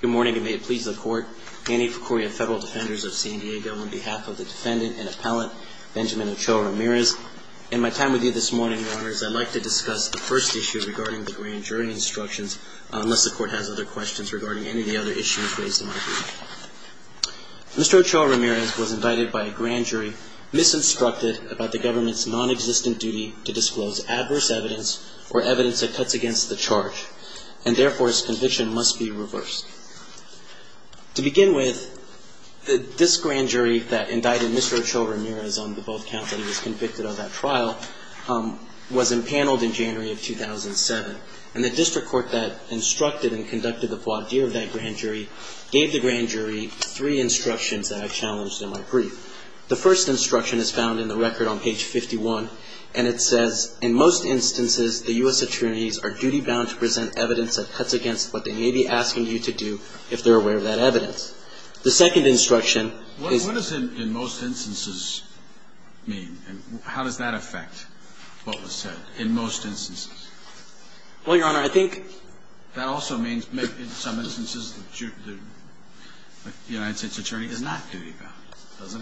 Good morning, and may it please the Court, Annie Pecoria, Federal Defenders of San Diego, on behalf of the defendant and appellant, Benjamin Ochoa-Ramirez. In my time with you this morning, Your Honors, I'd like to discuss the first issue regarding the grand jury instructions, unless the Court has other questions regarding any of the other issues raised in my brief. Mr. Ochoa-Ramirez was indicted by a grand jury, misinstructed about the government's nonexistent duty to disclose adverse evidence or evidence that cuts against the charge, and therefore, his conviction must be reversed. To begin with, this grand jury that indicted Mr. Ochoa-Ramirez on the both counts that he was convicted of that trial was empaneled in January of 2007. And the district court that instructed and conducted the voir dire of that grand jury gave the grand jury three instructions that I challenged in my brief. The first instruction is found in the record on page 51, and it says, In most instances, the U.S. attorneys are duty-bound to present evidence that cuts against what they may be asking you to do if they're aware of that evidence. The second instruction is... What does in most instances mean? How does that affect what was said, in most instances? Well, Your Honor, I think... That also means, in some instances, the United States attorney is not duty-bound, doesn't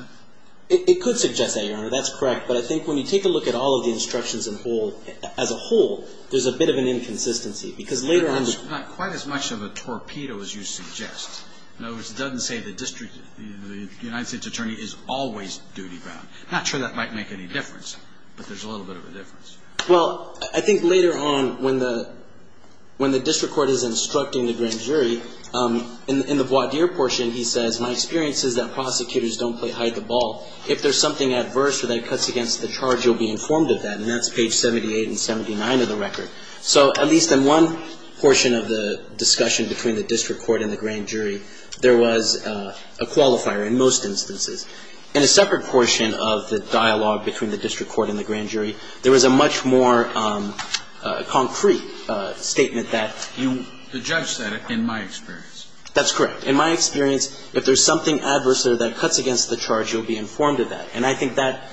it? It could suggest that, Your Honor. That's correct. But I think when you take a look at all of the instructions as a whole, there's a bit of an inconsistency, because later on... It's not quite as much of a torpedo as you suggest. In other words, it doesn't say the United States attorney is always duty-bound. I'm not sure that might make any difference, but there's a little bit of a difference. Well, I think later on, when the district court is instructing the grand jury, in the voir dire portion, he says, My experience is that prosecutors don't play hide-the-ball. If there's something adverse or that cuts against the charge, you'll be informed of that. And that's page 78 and 79 of the record. So at least in one portion of the discussion between the district court and the grand jury, there was a qualifier, in most instances. In a separate portion of the dialogue between the district court and the grand jury, there was a much more concrete statement that you... The judge said it, in my experience. That's correct. In my experience, if there's something adverse or that cuts against the charge, you'll be informed of that. And I think that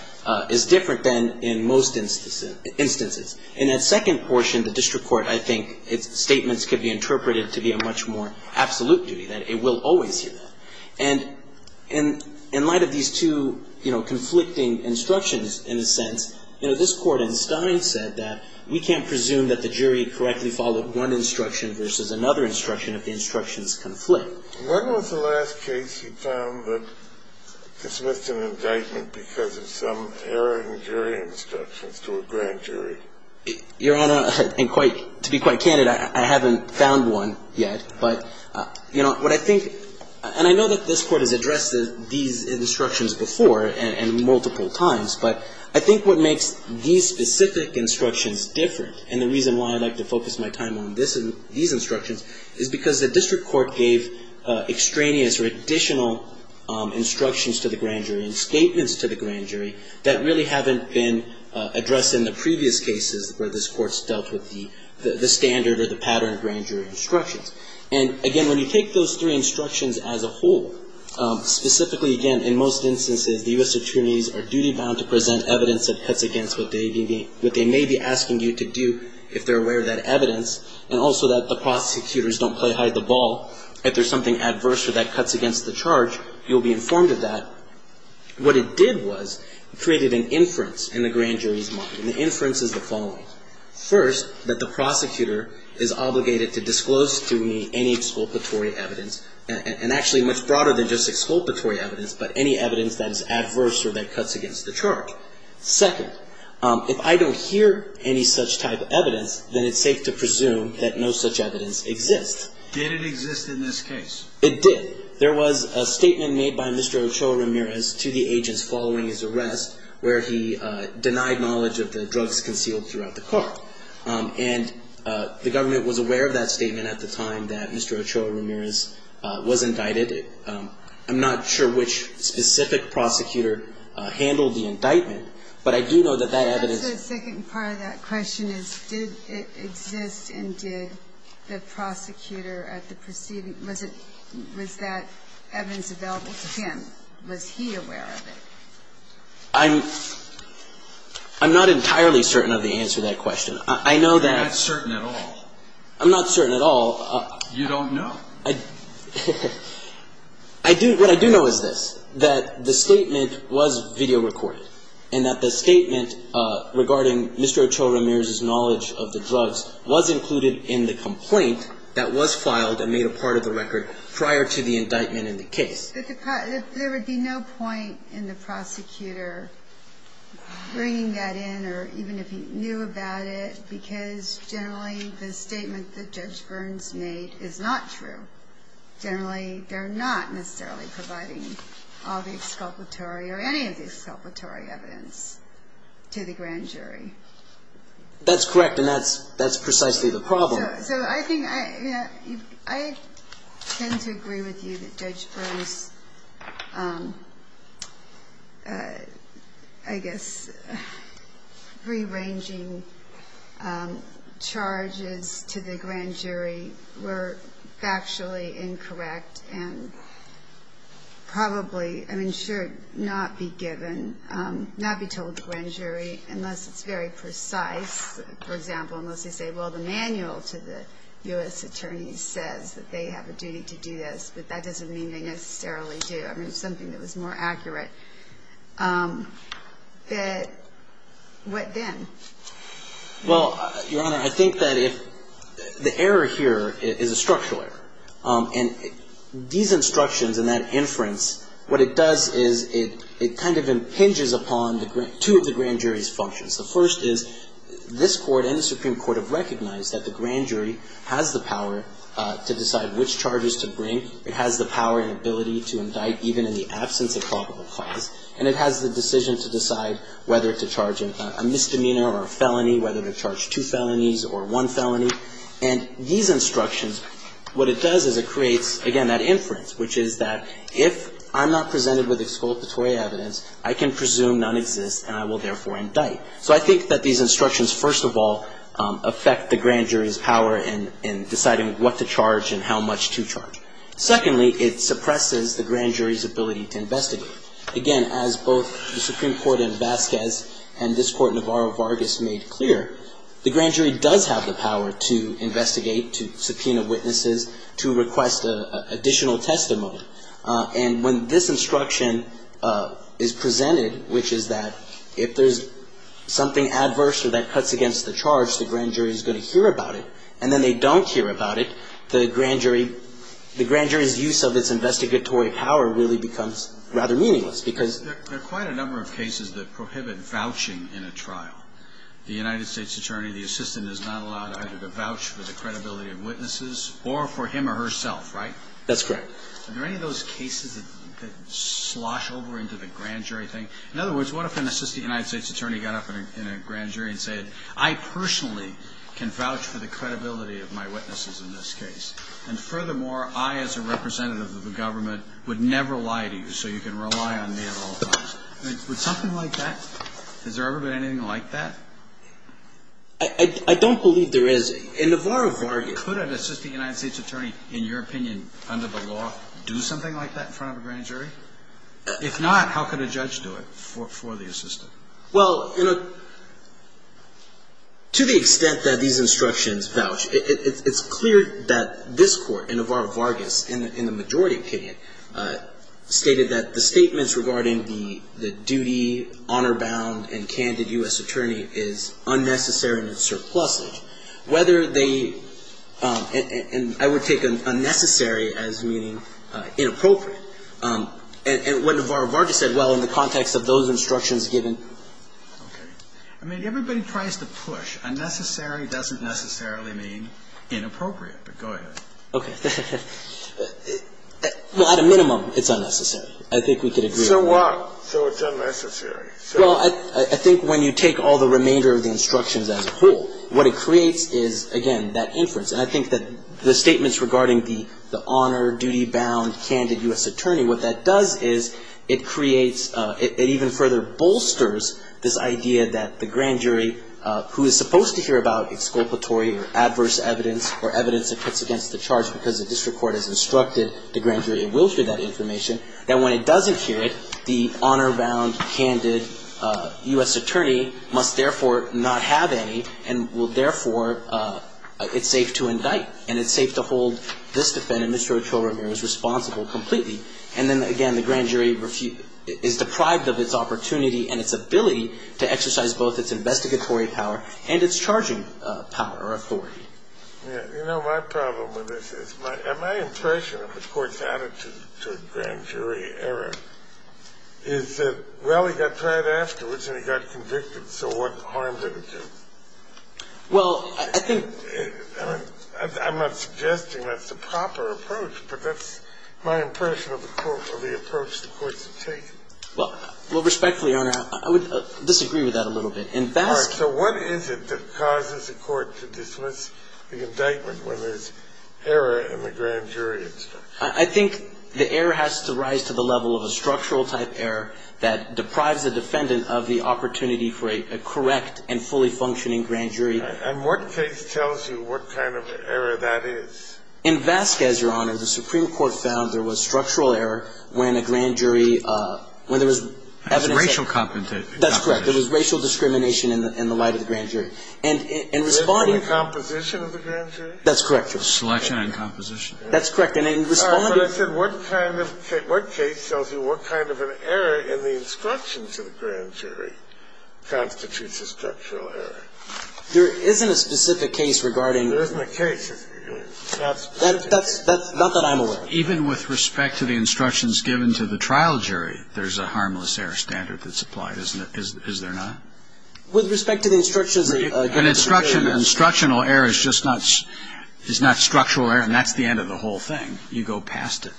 is different than in most instances. In that second portion, the district court, I think its statements could be interpreted to be a much more absolute duty, that it will always do that. And in light of these two conflicting instructions, in a sense, this court in Stein said that we can't presume that the jury correctly followed one instruction versus another instruction if the instructions conflict. When was the last case you found that dismissed an indictment because of some error in jury instructions to a grand jury? Your Honor, to be quite candid, I haven't found one yet. But, you know, what I think, and I know that this court has addressed these instructions before and multiple times, but I think what makes these specific instructions different, and the reason why I like to focus my time on these instructions, is because the district court gave extraneous or additional instructions to the grand jury and statements to the grand jury that really haven't been addressed in the previous cases where this court's dealt with the standard or the pattern of grand jury instructions. And, again, when you take those three instructions as a whole, specifically, again, in most instances, the U.S. attorneys are duty-bound to present evidence that cuts against what they may be asking you to do if they're aware of that evidence, and also that the prosecutors don't play hide-the-ball. If there's something adverse or that cuts against the charge, you'll be informed of that. What it did was created an inference in the grand jury's mind, and the inference is the following. First, that the prosecutor is obligated to disclose to me any exculpatory evidence, and actually much broader than just exculpatory evidence, but any evidence that is adverse or that cuts against the charge. Second, if I don't hear any such type of evidence, then it's safe to presume that no such evidence exists. Did it exist in this case? It did. There was a statement made by Mr. Ochoa-Ramirez to the agents following his arrest where he denied knowledge of the drugs concealed throughout the court. And the government was aware of that statement at the time that Mr. Ochoa-Ramirez was indicted. I'm not sure which specific prosecutor handled the indictment, but I do know that that evidence ---- The second part of that question is did it exist and did the prosecutor at the proceeding, was it, was that evidence available to him? Was he aware of it? I'm not entirely certain of the answer to that question. I know that ---- You're not certain at all. I'm not certain at all. You don't know. What I do know is this, that the statement was video recorded and that the statement regarding Mr. Ochoa-Ramirez's knowledge of the drugs was included in the complaint that was filed and made a part of the record prior to the indictment in the case. There would be no point in the prosecutor bringing that in or even if he knew about it because generally the statement that Judge Burns made is not true. Generally, they're not necessarily providing all the exculpatory or any of the exculpatory evidence to the grand jury. That's correct and that's precisely the problem. So I think I tend to agree with you that Judge Burns, I guess, rearranging charges to the grand jury were factually incorrect and probably, I mean, should not be given, not be told to the grand jury unless it's very precise. For example, unless they say, well, the manual to the U.S. attorney says that they have a duty to do this, but that doesn't mean they necessarily do. I mean, it's something that was more accurate. But what then? Well, Your Honor, I think that if the error here is a structural error and these instructions and that inference, what it does is it kind of impinges upon two of the grand jury's functions. The first is this Court and the Supreme Court have recognized that the grand jury has the power to decide which charges to bring. It has the power and ability to indict even in the absence of probable cause. And it has the decision to decide whether to charge a misdemeanor or a felony, whether to charge two felonies or one felony. And these instructions, what it does is it creates, again, that inference, which is that if I'm not presented with exculpatory evidence, I can presume none exists and I will therefore indict. So I think that these instructions, first of all, affect the grand jury's power in deciding what to charge and how much to charge. Secondly, it suppresses the grand jury's ability to investigate. Again, as both the Supreme Court in Vasquez and this Court in Navarro-Vargas made clear, the grand jury does have the power to investigate, to subpoena witnesses, to request additional testimony. And when this instruction is presented, which is that if there's something adverse or that cuts against the charge, the grand jury is going to hear about it. And then they don't hear about it, the grand jury's use of its investigatory power really becomes rather meaningless because There are quite a number of cases that prohibit vouching in a trial. The United States attorney, the assistant, is not allowed either to vouch for the credibility of witnesses or for him or herself, right? That's correct. Are there any of those cases that slosh over into the grand jury thing? In other words, what if an assistant United States attorney got up in a grand jury and said, I personally can vouch for the credibility of my witnesses in this case. And furthermore, I as a representative of the government would never lie to you, so you can rely on me at all times. Would something like that? Has there ever been anything like that? I don't believe there is. In Navarro-Vargas Could an assistant United States attorney, in your opinion, under the law, do something like that in front of a grand jury? If not, how could a judge do it for the assistant? Well, to the extent that these instructions vouch, it's clear that this Court, in Navarro-Vargas, in the majority opinion, stated that the statements regarding the duty, honor bound, and candid U.S. attorney is unnecessary and surplusage. Whether they – and I would take unnecessary as meaning inappropriate. And what Navarro-Vargas said, well, in the context of those instructions given – Okay. I mean, everybody tries to push. Unnecessary doesn't necessarily mean inappropriate, but go ahead. Okay. Well, at a minimum, it's unnecessary. I think we could agree on that. So what? So it's unnecessary. Well, I think when you take all the remainder of the instructions as a whole, what it creates is, again, that inference. And I think that the statements regarding the honor, duty bound, candid U.S. attorney, what that does is it creates – it even further bolsters this idea that the grand jury, who is supposed to hear about exculpatory or adverse evidence or evidence that cuts against the charge because the district court has instructed the grand jury it will hear that information, that when it doesn't hear it, the honor bound, candid U.S. attorney must therefore not have any and will therefore – it's safe to indict. And it's safe to hold this defendant, Mr. Ochoa-Ramirez, responsible completely. And then, again, the grand jury is deprived of its opportunity and its ability to exercise both its investigatory power and its charging power or authority. Yeah. You know, my problem with this is my – and my impression of the Court's attitude to a grand jury error is that, well, he got tried afterwards and he got convicted, so what harm did it do? Well, I think – I mean, I'm not suggesting that's the proper approach, but that's my impression of the approach the courts have taken. Well, respectfully, Your Honor, I would disagree with that a little bit. All right. So what is it that causes a court to dismiss the indictment when there's error in the grand jury instruction? I think the error has to rise to the level of a structural type error that deprives the defendant of the opportunity for a correct and fully functioning grand jury. And what case tells you what kind of error that is? In Vasquez, Your Honor, the Supreme Court found there was structural error when a grand jury – when there was evidence that – That's racial discrimination. That's correct. There was racial discrimination in the light of the grand jury. And in responding – In the composition of the grand jury? That's correct, Your Honor. Selection and composition. That's correct. And in responding – But I said what kind of – what case tells you what kind of an error in the instructions of the grand jury constitutes a structural error? There isn't a specific case regarding – There isn't a case. That's not that I'm aware of. Even with respect to the instructions given to the trial jury, there's a harmless error standard that's applied, isn't there? Is there not? With respect to the instructions – An instructional error is just not – is not structural error. And that's the end of the whole thing. You go past it.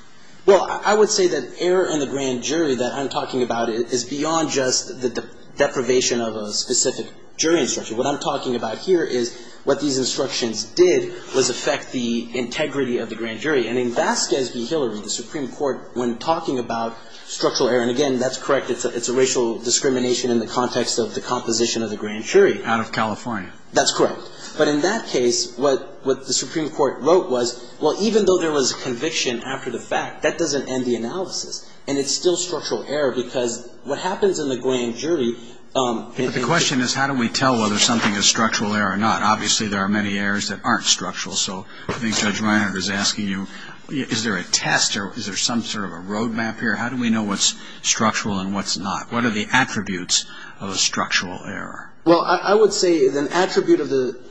Well, I would say that error in the grand jury that I'm talking about is beyond just the deprivation of a specific jury instruction. What I'm talking about here is what these instructions did was affect the integrity of the grand jury. And in Vasquez v. Hillary, the Supreme Court, when talking about structural error – and, again, that's correct. It's a racial discrimination in the context of the composition of the grand jury. Out of California. That's correct. But in that case, what the Supreme Court wrote was, well, even though there was a conviction after the fact, that doesn't end the analysis. And it's still structural error because what happens in the grand jury – But the question is how do we tell whether something is structural error or not? Obviously, there are many errors that aren't structural. So I think Judge Reinhart is asking you, is there a test or is there some sort of a road map here? How do we know what's structural and what's not? What are the attributes of a structural error? Well, I would say an attribute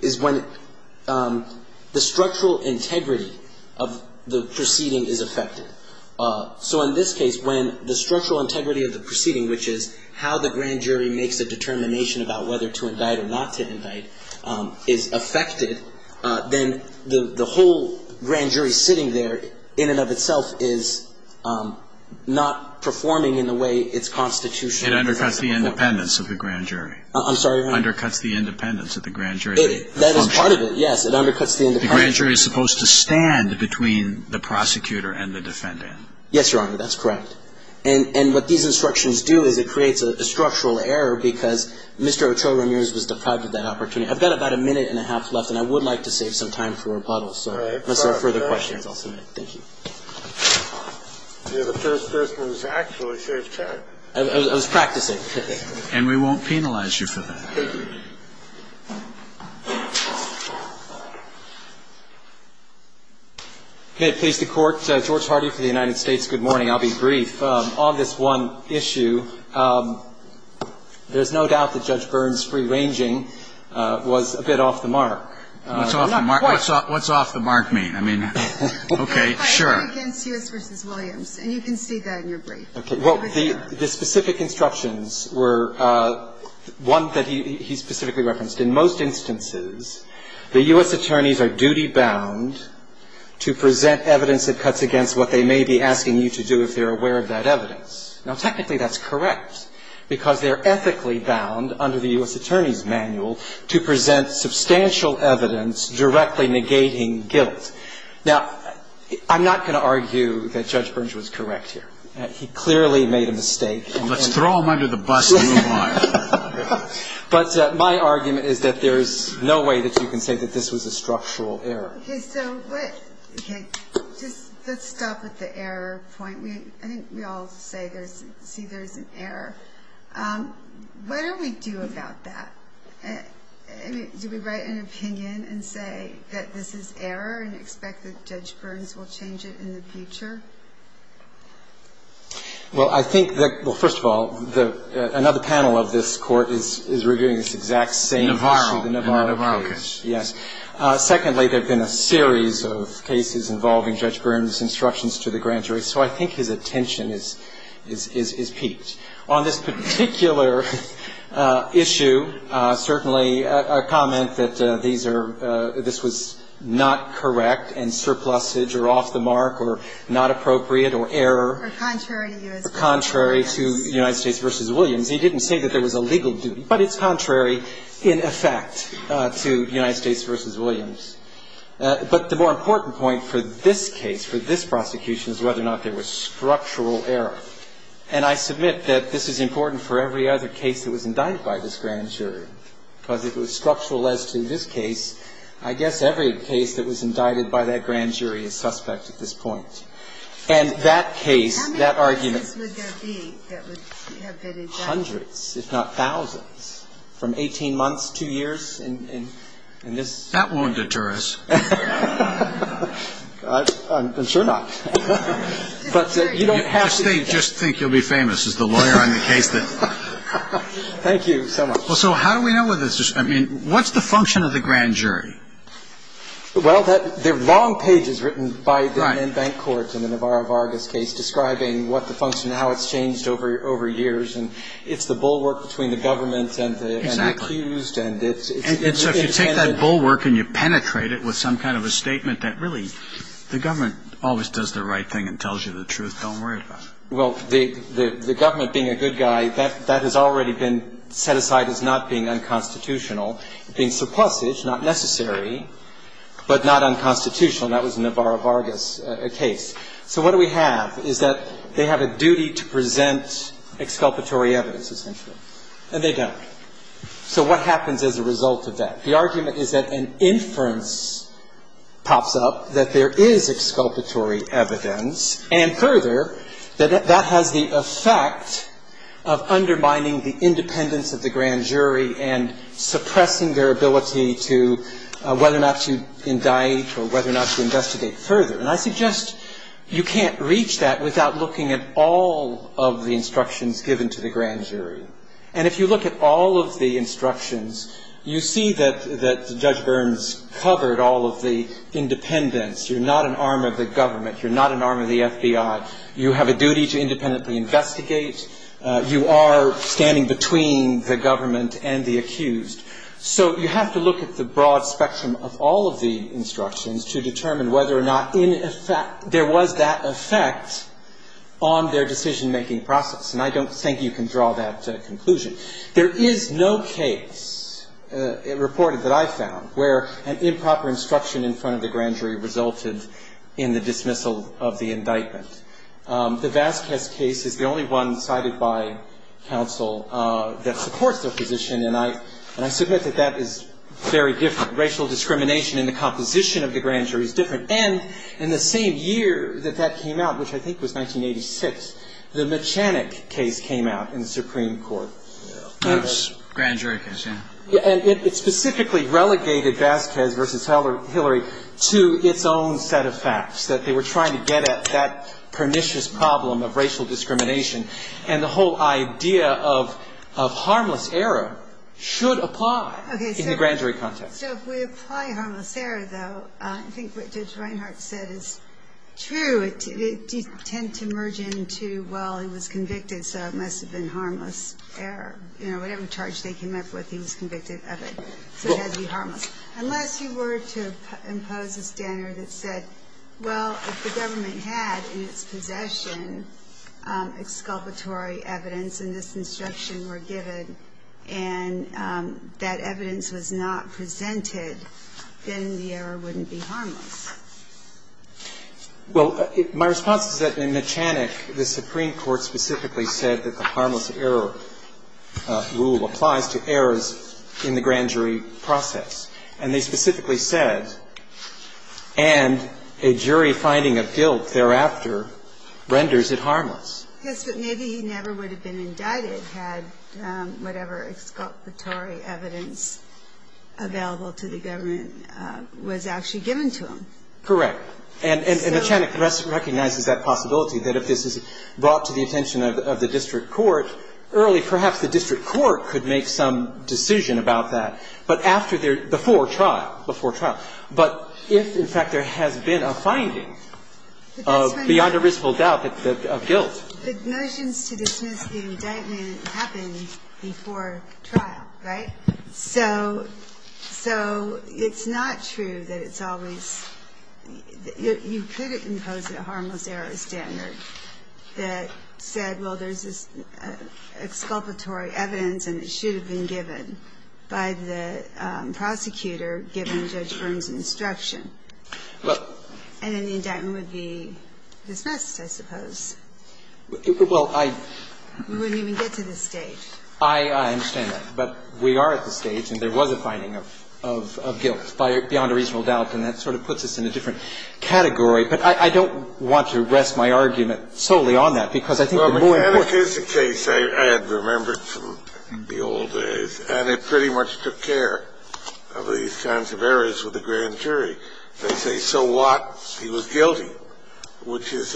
is when the structural integrity of the proceeding is affected. So in this case, when the structural integrity of the proceeding, which is how the grand jury makes a determination about whether to indict or not to indict, is affected, then the whole grand jury sitting there, in and of itself, is not performing in the way its constitution requires it to perform. It undercuts the independence of the grand jury. I'm sorry, Your Honor? It undercuts the independence of the grand jury. That is part of it, yes. It undercuts the independence. The grand jury is supposed to stand between the prosecutor and the defendant. Yes, Your Honor. That's correct. And what these instructions do is it creates a structural error because Mr. Ochoa Ramirez was deprived of that opportunity. I've got about a minute and a half left, and I would like to save some time for rebuttals. So unless there are further questions, I'll see you later. Thank you. You're the first person who's actually saved time. I was practicing. And we won't penalize you for that. Thank you. Okay. Please, the Court. George Hardy for the United States. Good morning. I'll be brief. On this one issue, there's no doubt that Judge Byrne's free-ranging was a bit off the mark. Not quite. What's off the mark mean? I mean, okay, sure. Cuts against U.S. v. Williams, and you can see that in your brief. Okay. Well, the specific instructions were one that he specifically referenced. In most instances, the U.S. attorneys are duty-bound to present evidence that cuts against what they may be asking you to do if they're aware of that evidence. Now, technically, that's correct, because they're ethically bound under the U.S. attorney's manual to present substantial evidence directly negating guilt. Now, I'm not going to argue that Judge Byrne's was correct here. He clearly made a mistake. Let's throw him under the bus and move on. But my argument is that there's no way that you can say that this was a structural error. Okay, so let's stop at the error point. I think we all say there's an error. What do we do about that? Do we write an opinion and say that this is error and expect that Judge Byrne's will change it in the future? Well, I think that, well, first of all, another panel of this Court is reviewing this exact same issue. Navarro case. Yes. There are two points. Secondly, there have been a series of cases involving Judge Byrne's instructions to the grand jury, so I think his attention is peaked. On this particular issue, certainly a comment that these are – this was not correct and surplusage or off the mark or not appropriate or error. Or contrary to U.S. v. Williams. Contrary to U.S. v. Williams. He didn't say that there was a legal duty, but it's contrary in effect to U.S. v. Williams. But the more important point for this case, for this prosecution, is whether or not there was structural error. And I submit that this is important for every other case that was indicted by this grand jury because it was structural as to this case. I guess every case that was indicted by that grand jury is suspect at this point. And that case, that argument – The Grand Jury is the largest jury in the United States. And there are hundreds, if not thousands, from 18 months, two years, and this – That won't deter us. I'm sure not. But you don't have to do that. Just think you'll be famous as the lawyer on the case that – Thank you so much. So how do we know whether – I mean, what's the function of the grand jury? Well, there are long pages written by the men in bank courts in the Navarro-Vargas case describing what the function – how it's changed over years. And it's the bulwark between the government and the accused. Exactly. And it's – And so if you take that bulwark and you penetrate it with some kind of a statement that really the government always does the right thing and tells you the truth, don't worry about it. Well, the government being a good guy, that has already been set aside as not being unconstitutional, being surplusage, not necessary, but not unconstitutional. That was the Navarro-Vargas case. So what do we have is that they have a duty to present exculpatory evidence, essentially. And they don't. So what happens as a result of that? The argument is that an inference pops up that there is exculpatory evidence, and further, that that has the effect of undermining the independence of the grand jury and suppressing their ability to – whether or not to indict or whether or not to investigate further. And I suggest you can't reach that without looking at all of the instructions given to the grand jury. And if you look at all of the instructions, you see that Judge Burns covered all of the independence. You're not an arm of the government. You're not an arm of the FBI. You have a duty to independently investigate. You are standing between the government and the accused. So you have to look at the broad spectrum of all of the instructions to determine whether or not there was that effect on their decision-making process. And I don't think you can draw that conclusion. There is no case reported that I found where an improper instruction in front of the grand jury resulted in the dismissal of the indictment. The Vasquez case is the only one cited by counsel that supports their position, and I submit that that is very different. Racial discrimination in the composition of the grand jury is different. And in the same year that that came out, which I think was 1986, the Mechanic case came out in the Supreme Court. Grand jury case, yeah. And it specifically relegated Vasquez v. Hillary to its own set of facts, that they were trying to get at that pernicious problem of racial discrimination. And the whole idea of harmless error should apply in the grand jury context. Okay. So if we apply harmless error, though, I think what Judge Reinhart said is true. It did tend to merge into, well, he was convicted, so it must have been harmless error. You know, whatever charge they came up with, he was convicted of it. So it had to be harmless. Unless you were to impose a standard that said, well, if the government had in its possession exculpatory evidence and this instruction were given and that evidence was not presented, then the error wouldn't be harmless. Well, my response is that in Mechanic, the Supreme Court specifically said that the And they specifically said, and a jury finding of guilt thereafter renders it harmless. Yes, but maybe he never would have been indicted had whatever exculpatory evidence available to the government was actually given to him. Correct. And Mechanic recognizes that possibility, that if this is brought to the attention of the district court, early perhaps the district court could make some decision about that, but after their, before trial, before trial. But if, in fact, there has been a finding of beyond a reasonable doubt of guilt. But motions to dismiss the indictment happened before trial, right? So it's not true that it's always, you could impose a harmless error standard that said, well, there's this exculpatory evidence and it should have been given. well, there's this exculpatory evidence and it should have been given by the prosecutor given Judge Byrne's instruction. Well. And then the indictment would be dismissed, I suppose. Well, I. We wouldn't even get to this stage. I understand that. But we are at this stage and there was a finding of guilt by beyond a reasonable And it pretty much took care of these kinds of errors with the grand jury. They say, so what? He was guilty, which is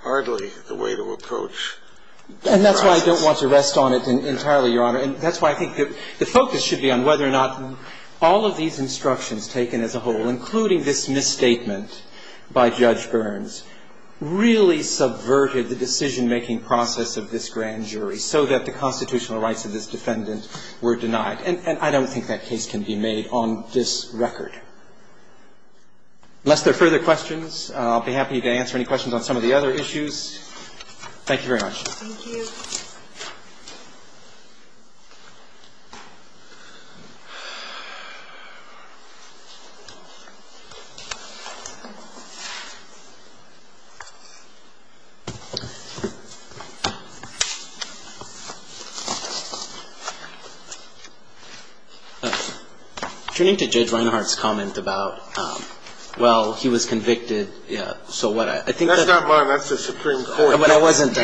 hardly the way to approach the process. And that's why I don't want to rest on it entirely, Your Honor. And that's why I think the focus should be on whether or not all of these instructions taken as a whole, including this misstatement by Judge Byrne's, really subverted the decision-making process of this grand jury so that the constitutional rights of this defendant were denied. And I don't think that case can be made on this record. Unless there are further questions, I'll be happy to answer any questions on some of the other issues. Thank you very much. Thank you. Turning to Judge Reinhart's comment about, well, he was convicted, so what I think That's not mine. That's the Supreme Court. I wasn't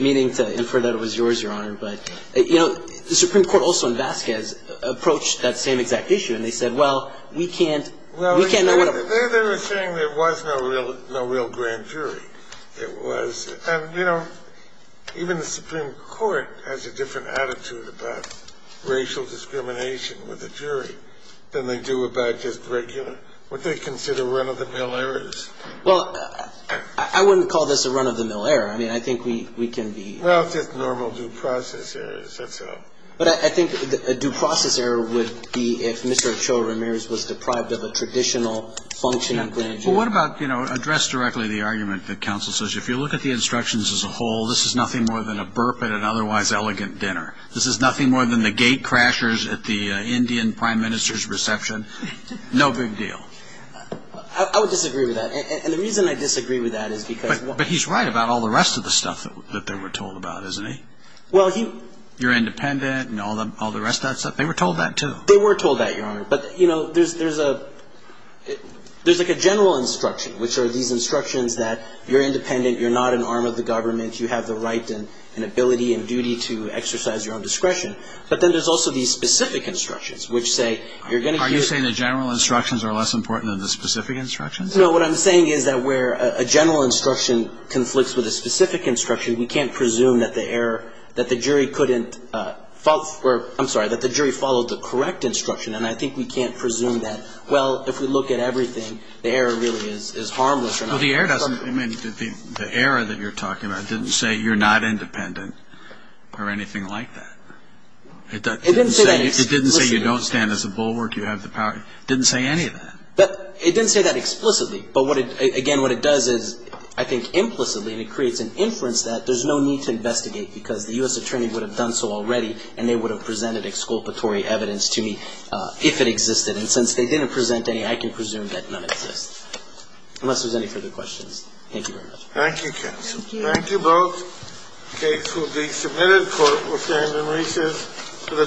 meaning to infer that it was yours, Your Honor. But, you know, the Supreme Court also in Vasquez approached that same exact issue and they said, well, we can't know what They were saying there was no real grand jury. It was. And, you know, even the Supreme Court has a different attitude about racial discrimination with a jury than they do about just regular, what they consider run-of-the-mill errors. Well, I wouldn't call this a run-of-the-mill error. I mean, I think we can be Well, it's just normal due process errors. That's all. But I think a due process error would be if Mr. Ochoa Ramirez was deprived of a traditional function of grand jury. Well, what about, you know, address directly the argument that counsel says, if you look at the instructions as a whole, this is nothing more than a burp at an otherwise elegant dinner. This is nothing more than the gate crashers at the Indian prime minister's reception. No big deal. I would disagree with that. And the reason I disagree with that is because But he's right about all the rest of the stuff that they were told about, isn't he? Well, he They were told that, too. They were told that, Your Honor. But, you know, there's a There's like a general instruction, which are these instructions that you're independent. You're not an arm of the government. You have the right and ability and duty to exercise your own discretion. But then there's also these specific instructions, which say Are you saying the general instructions are less important than the specific instructions? No. What I'm saying is that where a general instruction conflicts with a specific instruction, we can't presume that the error That the jury couldn't I'm sorry. That the jury followed the correct instruction. And I think we can't presume that, well, if we look at everything, the error really is harmless or not. Well, the error doesn't I mean, the error that you're talking about didn't say you're not independent or anything like that. It didn't say It didn't say you don't stand as a bulwark. You have the power. It didn't say any of that. But it didn't say that explicitly. But what it Again, what it does is, I think, implicitly and it creates an inference that there's no need to investigate because the U.S. attorney would have done so already and they would have presented exculpatory evidence to me if it existed. And since they didn't present any, I can presume that none exists. Unless there's any further questions. Thank you very much. Thank you, counsel. Thank you both. The case will be submitted. Court will stand in recess for the day. All rise for standing recess.